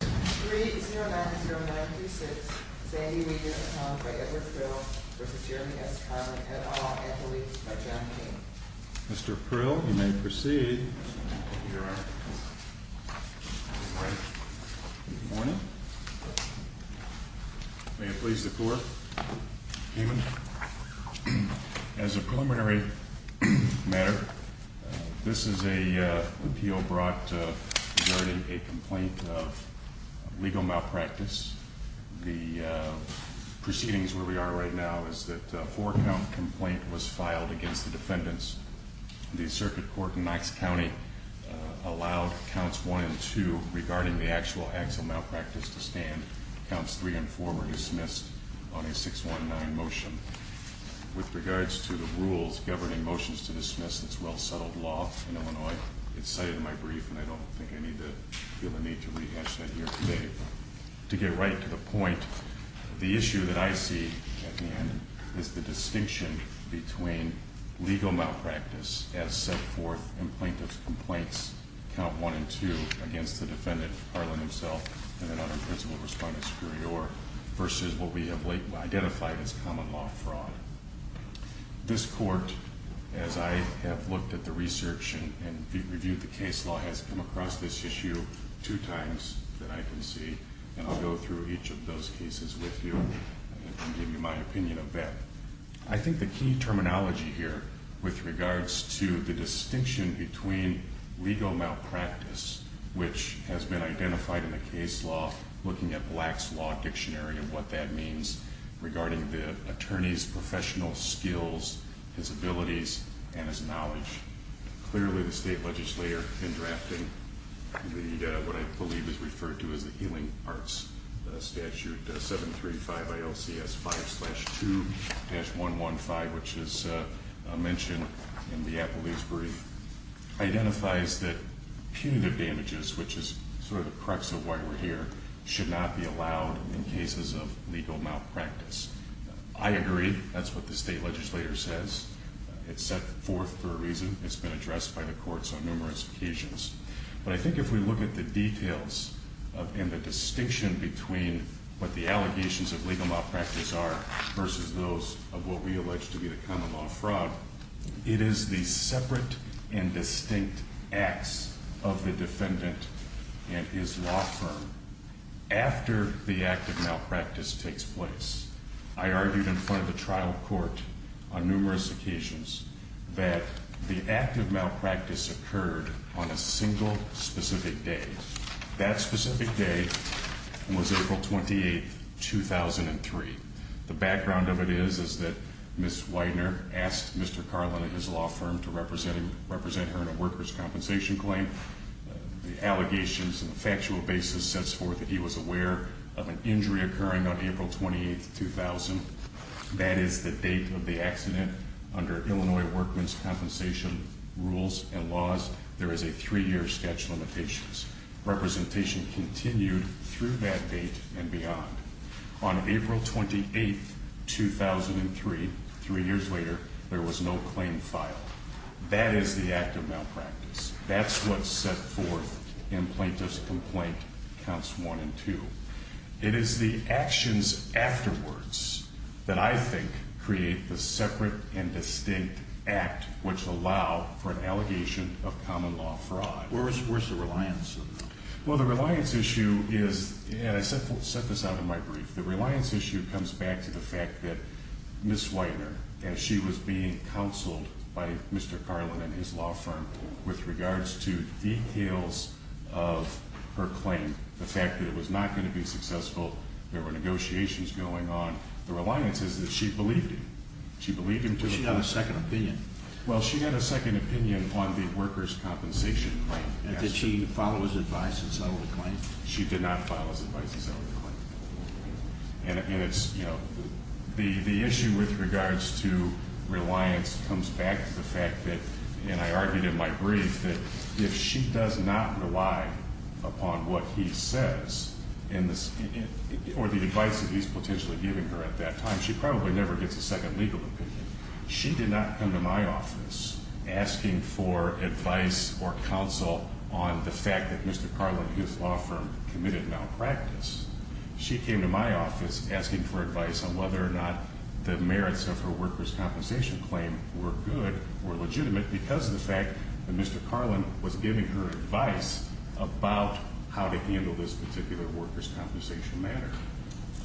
3-090936, Sandy Weidner v. Edward Krill v. Jeremy S. Karlin, et al., at the leave of John Kean. Mr. Krill, you may proceed. Good morning. May it please the Court. As a preliminary matter, this is an appeal brought regarding a complaint of legal malpractice. The proceedings where we are right now is that a four-count complaint was filed against the defendants. The circuit court in Knox County allowed counts 1 and 2 regarding the actual actual malpractice to stand. Counts 3 and 4 were dismissed on a 619 motion. With regards to the rules governing motions to dismiss this well-settled law in Illinois, it's cited in my brief, and I don't think I need to feel the need to rehash that here today. To get right to the point, the issue that I see at the end is the distinction between legal malpractice as set forth in plaintiff's complaints, count 1 and 2, against the defendant, Karlin himself, and another principal respondent superior, versus what we have identified as common law fraud. This Court, as I have looked at the research and reviewed the case law, has come across this issue two times that I can see, and I'll go through each of those cases with you and give you my opinion of that. I think the key terminology here with regards to the distinction between legal malpractice, which has been identified in the case law, looking at Black's Law Dictionary and what that means, regarding the attorney's professional skills, his abilities, and his knowledge. Clearly, the state legislator in drafting what I believe is referred to as the Healing Arts Statute 735 ILCS 5-2-115, which is mentioned in the Applebee's brief, identifies that punitive damages, which is sort of the crux of why we're here, should not be allowed in cases of legal malpractice. I agree. That's what the state legislator says. It's set forth for a reason. It's been addressed by the courts on numerous occasions. But I think if we look at the details and the distinction between what the allegations of legal malpractice are versus those of what we allege to be the common law fraud, it is the separate and distinct acts of the defendant and his law firm after the act of malpractice takes place. I argued in front of the trial court on numerous occasions that the act of malpractice occurred on a single specific day. That specific day was April 28, 2003. The background of it is that Ms. Widener asked Mr. Carlin and his law firm to represent her in a workers' compensation claim. The allegations and the factual basis sets forth that he was aware of an injury occurring on April 28, 2000. That is the date of the accident. Under Illinois workmen's compensation rules and laws, there is a three-year statute of limitations. Representation continued through that date and beyond. On April 28, 2003, three years later, there was no claim filed. That is the act of malpractice. That's what's set forth in Plaintiffs' Complaint Counts I and II. It is the actions afterwards that I think create the separate and distinct act which allow for an allegation of common law fraud. Where's the reliance on that? Well, the reliance issue is, and I set this out in my brief, the reliance issue comes back to the fact that Ms. Widener, as she was being counseled by Mr. Carlin and his law firm with regards to details of her claim, the fact that it was not going to be successful, there were negotiations going on, the reliance is that she believed him. She believed him to the point- But she had a second opinion. Well, she had a second opinion on the workers' compensation claim. And did she follow his advice and settle the claim? She did not follow his advice and settle the claim. And it's, you know, the issue with regards to reliance comes back to the fact that, and I argued in my brief, that if she does not rely upon what he says or the advice that he's potentially giving her at that time, she probably never gets a second legal opinion. She did not come to my office asking for advice or counsel on the fact that Mr. Carlin and his law firm committed malpractice. She came to my office asking for advice on whether or not the merits of her workers' compensation claim were good or legitimate because of the fact that Mr. Carlin was giving her advice about how to handle this particular workers' compensation matter.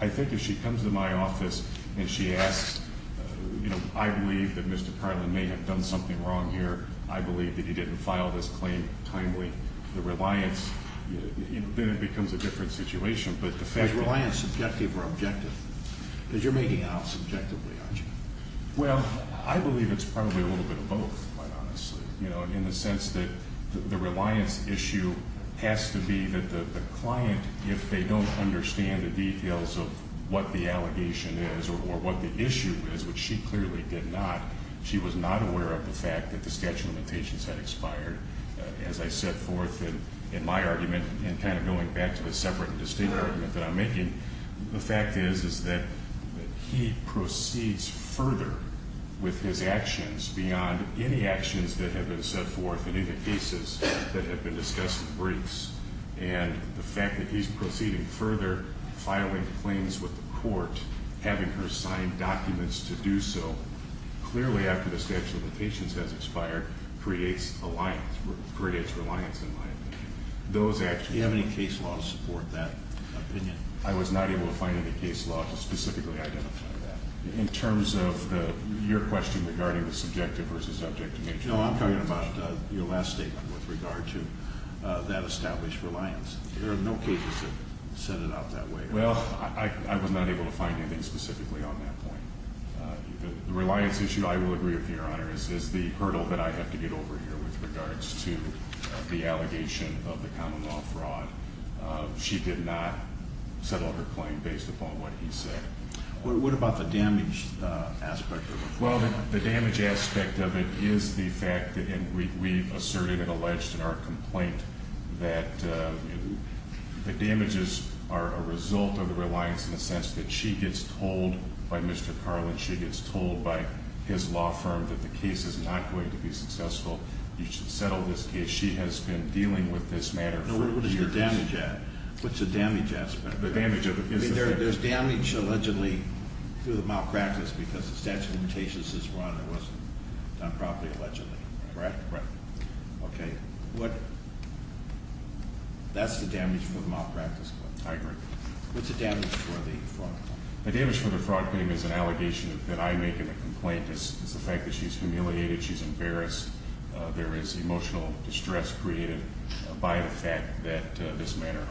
I think if she comes to my office and she asks, you know, I believe that Mr. Carlin may have done something wrong here. I believe that he didn't file this claim timely. The reliance, then it becomes a different situation, but the fact- Is reliance subjective or objective? Because you're making it out subjectively, aren't you? Well, I believe it's probably a little bit of both, quite honestly, you know, in the sense that the reliance issue has to be that the client, if they don't understand the details of what the allegation is or what the issue is, which she clearly did not, she was not aware of the fact that the statute of limitations had expired. As I set forth in my argument and kind of going back to the separate and distinct argument that I'm making, the fact is that he proceeds further with his actions beyond any actions that have been set forth in any cases that have been discussed in briefs. And the fact that he's proceeding further filing claims with the court, having her sign documents to do so, clearly after the statute of limitations has expired, creates reliance in my opinion. Do you have any case law to support that opinion? I was not able to find any case law to specifically identify that. In terms of your question regarding the subjective versus objective nature- No, I'm talking about your last statement with regard to that established reliance. There are no cases that set it out that way. Well, I was not able to find anything specifically on that point. The reliance issue, I will agree with you, Your Honor, is the hurdle that I have to get over here with regards to the allegation of the common law fraud. She did not settle her claim based upon what he said. What about the damage aspect of it? Well, the damage aspect of it is the fact that we asserted and alleged in our complaint that the damages are a result of the reliance in the sense that she gets told by Mr. Carlin, she gets told by his law firm that the case is not going to be successful, you should settle this case. She has been dealing with this matter for years. What's the damage aspect of it? The damage of it is the fact- I mean, there's damage allegedly through the malpractice because the statute of limitations is run. It wasn't done properly allegedly. Correct? Correct. Okay. That's the damage for the malpractice claim. I agree. What's the damage for the fraud claim? The damage for the fraud claim is an allegation that I make in the complaint is the fact that she's humiliated, she's embarrassed. There is emotional distress created by the fact that this matter-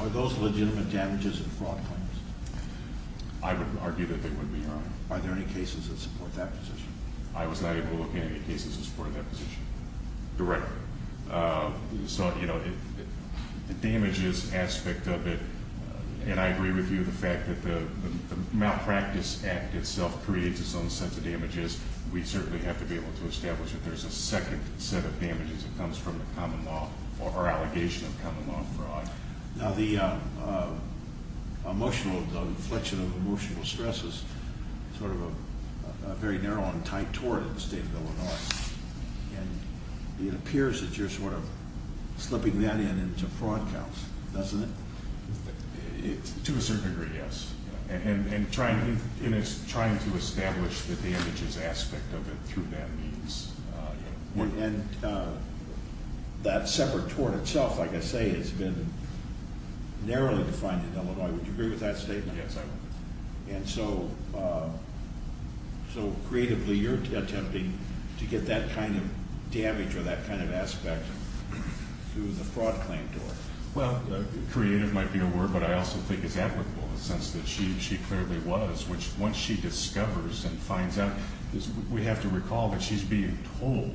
Are those legitimate damages in fraud claims? I would argue that they would be, Your Honor. Are there any cases that support that position? I was not able to look at any cases in support of that position directly. So, you know, the damages aspect of it, and I agree with you, the fact that the malpractice act itself creates its own set of damages, we certainly have to be able to establish that there's a second set of damages that comes from the common law or allegation of common law fraud. Now, the emotional, the inflection of emotional stress is sort of a very narrow and tight tort in the state of Illinois, and it appears that you're sort of slipping that in into fraud counts, doesn't it? To a certain degree, yes, and trying to establish the damages aspect of it through that means. And that separate tort itself, like I say, has been narrowly defined in Illinois. Would you agree with that statement? Yes, I would. And so creatively, you're attempting to get that kind of damage or that kind of aspect through the fraud claim tort. Well, creative might be a word, but I also think it's applicable in the sense that she clearly was, which once she discovers and finds out, we have to recall that she's being told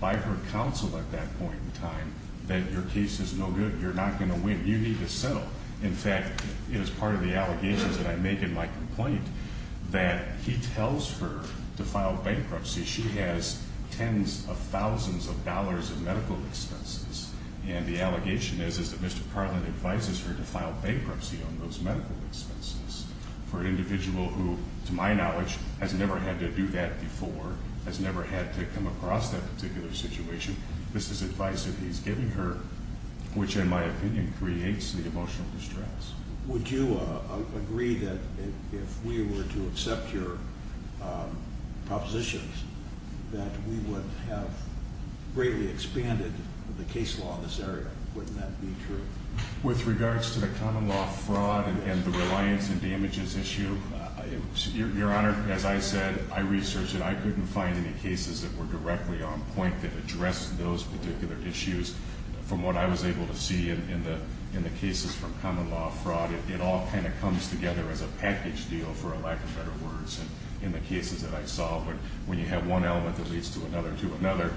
by her counsel at that point in time that your case is no good. You're not going to win. You need to settle. In fact, it is part of the allegations that I make in my complaint that he tells her to file bankruptcy. She has tens of thousands of dollars of medical expenses, and the allegation is that Mr. Carlin advises her to file bankruptcy on those medical expenses for an individual who, to my knowledge, has never had to do that before, has never had to come across that particular situation. This is advice that he's giving her, which, in my opinion, creates the emotional distress. Would you agree that if we were to accept your propositions that we would have greatly expanded the case law in this area? Wouldn't that be true? With regards to the common law fraud and the reliance and damages issue, Your Honor, as I said, I researched it. I couldn't find any cases that were directly on point that addressed those particular issues. From what I was able to see in the cases from common law fraud, it all kind of comes together as a package deal, for a lack of better words, in the cases that I saw, when you have one element that leads to another to another.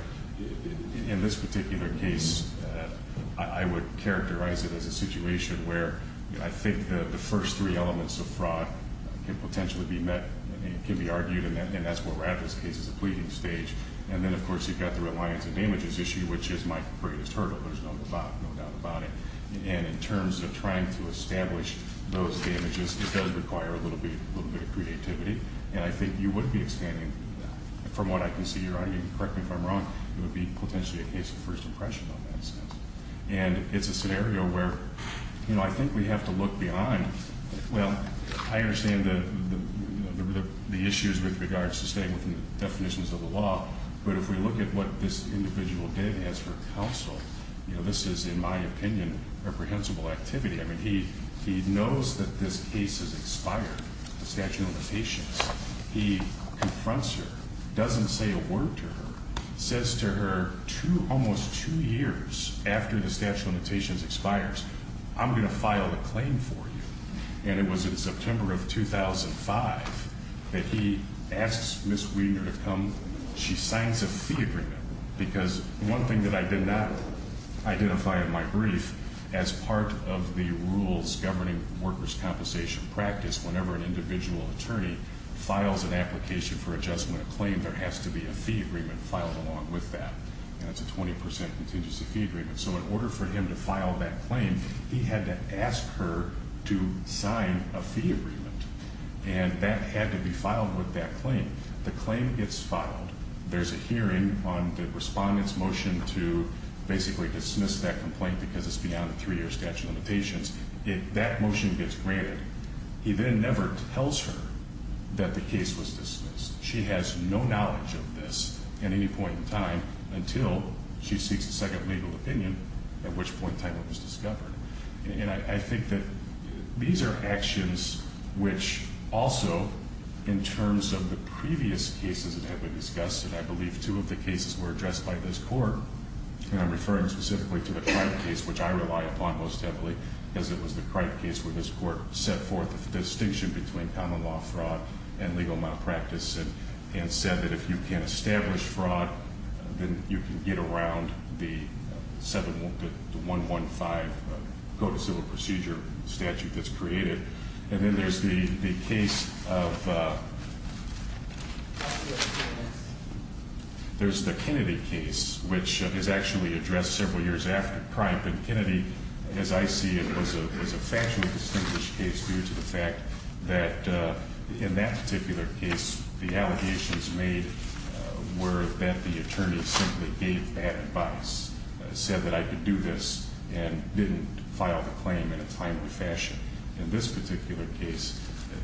In this particular case, I would characterize it as a situation where I think the first three elements of fraud can potentially be met, can be argued, and that's what we're at in this case, is a pleading stage. And then, of course, you've got the reliance and damages issue, which is my greatest hurdle. There's no doubt about it. And in terms of trying to establish those damages, it does require a little bit of creativity, and I think you would be expanding from what I can see. Your Honor, you can correct me if I'm wrong. It would be potentially a case of first impression on that. And it's a scenario where, you know, I think we have to look behind. Well, I understand the issues with regards to staying within the definitions of the law, but if we look at what this individual did as for counsel, you know, this is, in my opinion, reprehensible activity. I mean, he knows that this case has expired, the statute of limitations. He confronts her, doesn't say a word to her, says to her, almost two years after the statute of limitations expires, I'm going to file a claim for you. And it was in September of 2005 that he asks Ms. Wiener to come. She signs a fee agreement, because one thing that I did not identify in my brief, as part of the rules governing workers' compensation practice, whenever an individual attorney files an application for adjustment of claim, there has to be a fee agreement filed along with that, and it's a 20% contingency fee agreement. So in order for him to file that claim, he had to ask her to sign a fee agreement, and that had to be filed with that claim. The claim gets filed. There's a hearing on the respondent's motion to basically dismiss that complaint because it's beyond a three-year statute of limitations. That motion gets granted. He then never tells her that the case was dismissed. She has no knowledge of this at any point in time until she seeks a second legal opinion, at which point time it was discovered. And I think that these are actions which also, in terms of the previous cases that have been discussed, and I believe two of the cases were addressed by this court, and I'm referring specifically to the Cripe case, which I rely upon most heavily, because it was the Cripe case where this court set forth the distinction between common law fraud and legal malpractice and said that if you can establish fraud, then you can get around the 115 Code of Civil Procedure statute that's created. And then there's the case of the Kennedy case, which is actually addressed several years after Cripe. And Kennedy, as I see it, was a factually distinguished case due to the fact that in that particular case, the allegations made were that the attorney simply gave bad advice, said that I could do this, and didn't file the claim in a timely fashion. In this particular case,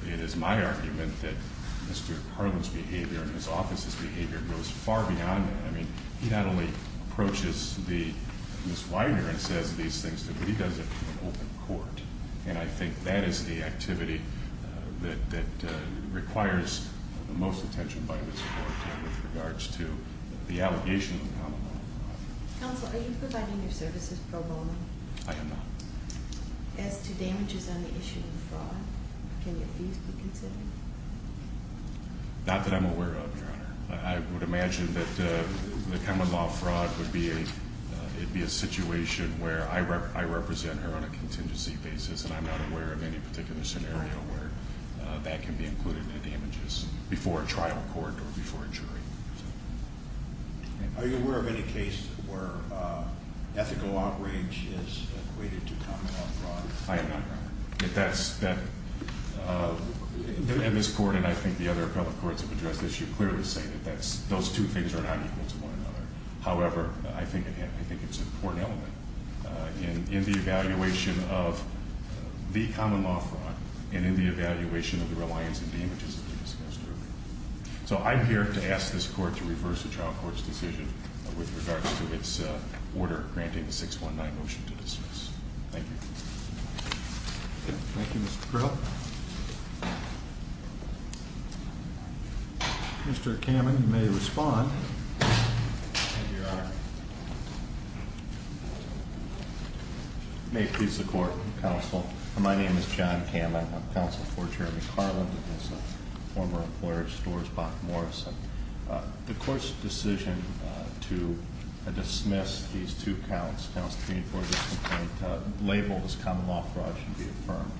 it is my argument that Mr. Harlan's behavior and his office's behavior goes far beyond that. I mean, he not only approaches Ms. Weiner and says these things to her, but he does it in an open court. And I think that is the activity that requires the most attention by this court with regards to the allegations of common law fraud. Counsel, are you providing your services pro bono? I am not. As to damages on the issue of fraud, can your fees be considered? Not that I'm aware of, Your Honor. I would imagine that the common law fraud would be a situation where I represent her on a contingency basis, and I'm not aware of any particular scenario where that can be included in damages before a trial court or before a jury. Are you aware of any case where ethical outrage is equated to common law fraud? I am not, Your Honor. And this court and I think the other appellate courts have addressed this. You're clear to say that those two things are not equal to one another. However, I think it's an important element in the evaluation of the common law fraud and in the evaluation of the reliance on damages that we discussed earlier. So I'm here to ask this court to reverse the trial court's decision with regards to its order granting the 619 motion to dismiss. Thank you. Thank you, Mr. Brill. Mr. Kamen, you may respond. Thank you, Your Honor. May it please the court, counsel. My name is John Kamen. I'm counsel for Jeremy Carland and his former employer, Storrs Bach Morrison. The court's decision to dismiss these two counts, counts three and four of this complaint labeled as common law fraud should be affirmed.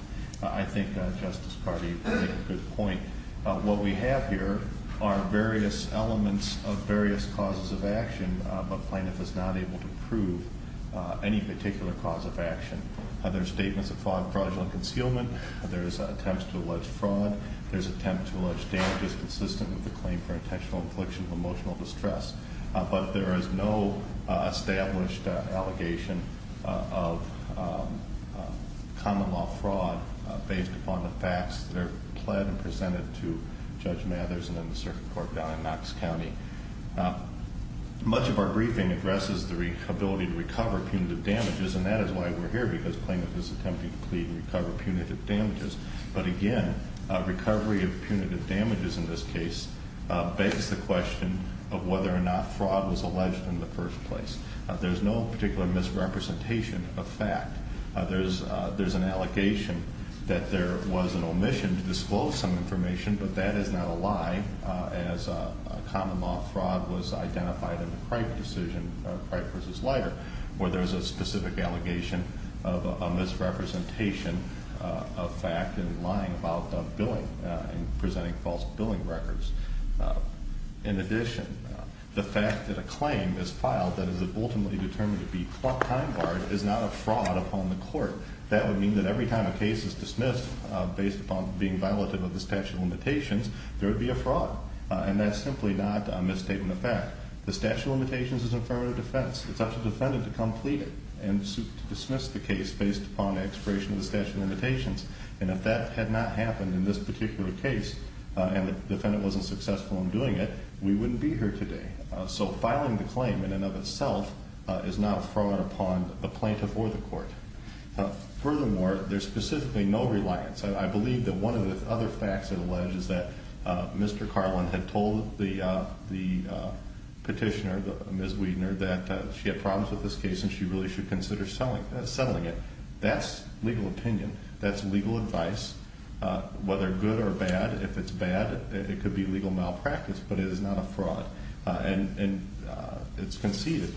I think Justice Cardi made a good point. What we have here are various elements of various causes of action, but plaintiff is not able to prove any particular cause of action. There are statements of fraud, fraudulent concealment. There is attempts to allege fraud. There's attempts to allege damages consistent with the claim for intentional infliction of emotional distress. But there is no established allegation of common law fraud based upon the facts that are pled and presented to Judge Mathers and then the circuit court down in Knox County. Much of our briefing addresses the ability to recover punitive damages, and that is why we're here, because plaintiff is attempting to plead and recover punitive damages. But again, recovery of punitive damages in this case begs the question of whether or not fraud was alleged in the first place. There's no particular misrepresentation of fact. There's an allegation that there was an omission to disclose some information, but that is not a lie as common law fraud was identified in the Cripe decision, Cripe versus Leiter, where there's a specific allegation of a misrepresentation of fact and lying about billing and presenting false billing records. In addition, the fact that a claim is filed that is ultimately determined to be time barred is not a fraud upon the court. That would mean that every time a case is dismissed based upon being violative of the statute of limitations, there would be a fraud, and that's simply not a misstatement of fact. The statute of limitations is in front of the defense. It's up to the defendant to come plead it and dismiss the case based upon expiration of the statute of limitations. And if that had not happened in this particular case and the defendant wasn't successful in doing it, we wouldn't be here today. So filing the claim in and of itself is not a fraud upon the plaintiff or the court. Furthermore, there's specifically no reliance. I believe that one of the other facts that alleges that Mr. Carlin had told the petitioner, Ms. Wiedner, that she had problems with this case and she really should consider settling it. That's legal opinion. That's legal advice, whether good or bad. If it's bad, it could be legal malpractice, but it is not a fraud, and it's conceded.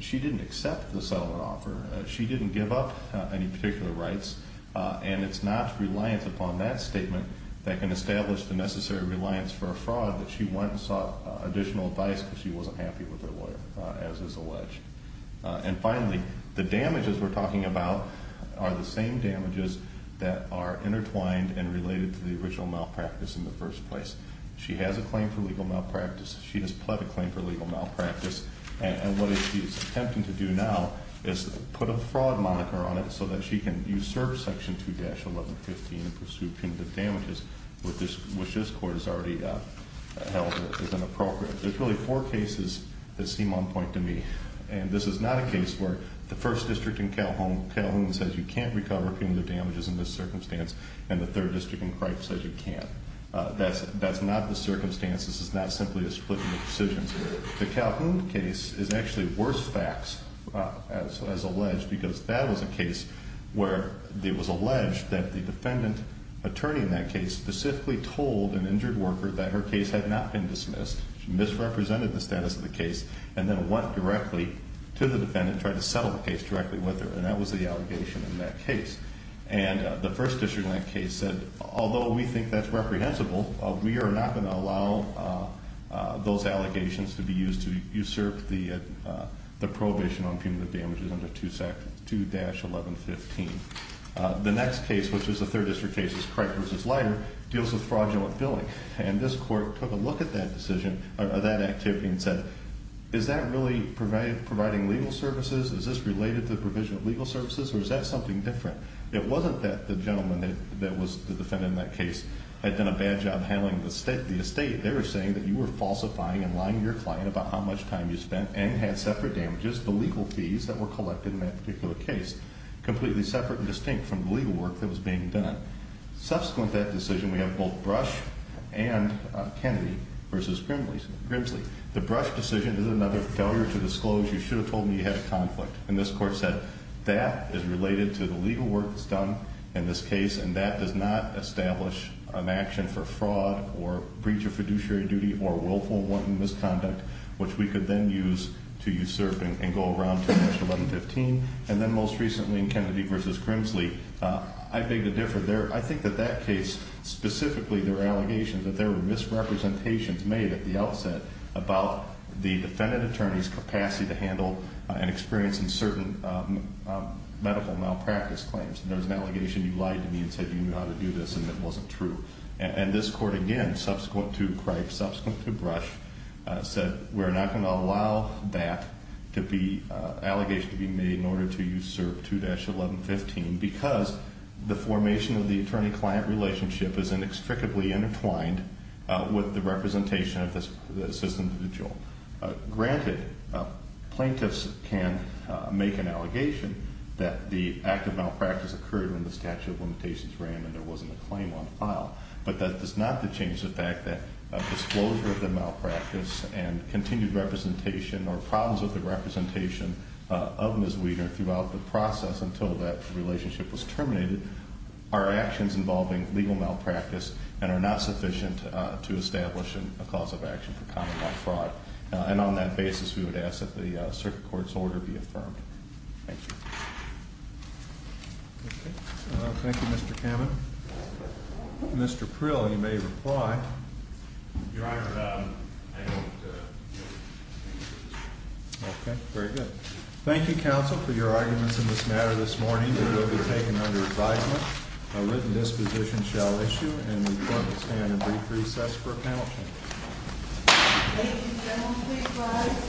She didn't accept the settlement offer. She didn't give up any particular rights, and it's not reliance upon that statement that can establish the necessary reliance for a fraud that she went and sought additional advice because she wasn't happy with her lawyer, as is alleged. And finally, the damages we're talking about are the same damages that are intertwined and related to the original malpractice in the first place. She has a claim for legal malpractice. She has pled a claim for legal malpractice. And what she's attempting to do now is put a fraud moniker on it so that she can usurp Section 2-1115 and pursue punitive damages, which this court has already held as inappropriate. There's really four cases that seem on point to me. And this is not a case where the first district in Calhoun says you can't recover punitive damages in this circumstance, and the third district in Cripes says you can't. That's not the circumstance. This is not simply a split in the decisions. The Calhoun case is actually worse facts, as alleged, because that was a case where it was alleged that the defendant attorney in that case specifically told an injured worker that her case had not been dismissed, misrepresented the status of the case, and then went directly to the defendant and tried to settle the case directly with her. And that was the allegation in that case. And the first district in that case said, although we think that's reprehensible, we are not going to allow those allegations to be used to usurp the prohibition on punitive damages under 2-1115. The next case, which is a third district case, is Cripes v. Leiter, deals with fraudulent billing. And this court took a look at that decision, or that activity, and said, is that really providing legal services? Is this related to the provision of legal services, or is that something different? It wasn't that the gentleman that was the defendant in that case had done a bad job handling the estate. They were saying that you were falsifying and lying to your client about how much time you spent and had separate damages, the legal fees that were collected in that particular case, completely separate and distinct from the legal work that was being done. Subsequent to that decision, we have both Brush and Kennedy v. Grimsley. The Brush decision is another failure to disclose, you should have told me you had a conflict. And this court said, that is related to the legal work that's done in this case, and that does not establish an action for fraud or breach of fiduciary duty or willful and wanton misconduct, which we could then use to usurp and go around to 2-1115. And then most recently in Kennedy v. Grimsley, I beg to differ. I think that that case, specifically their allegations that there were misrepresentations made at the outset about the defendant attorney's capacity to handle and experience in certain medical malpractice claims. There was an allegation you lied to me and said you knew how to do this and it wasn't true. And this court, again, subsequent to Cripes, subsequent to Brush, said we're not going to allow that allegation to be made in order to usurp 2-1115 because the formation of the attorney-client relationship is inextricably intertwined with the representation of this individual. Granted, plaintiffs can make an allegation that the act of malpractice occurred when the statute of limitations ran and there wasn't a claim on file. But that does not change the fact that disclosure of the malpractice and continued representation or problems with the representation of Ms. Wiener throughout the process until that relationship was terminated are actions involving legal malpractice and are not sufficient to establish a cause of action for common law fraud. And on that basis, we would ask that the circuit court's order be affirmed. Thank you. Thank you, Mr. Kamen. Mr. Prill, you may reply. Your Honor, I don't think this is true. Okay. Very good. Thank you, counsel, for your arguments in this matter this morning. They will be taken under advisement. A written disposition shall issue and the court will stand in brief recess for a panel. Thank you, gentlemen. Please rise.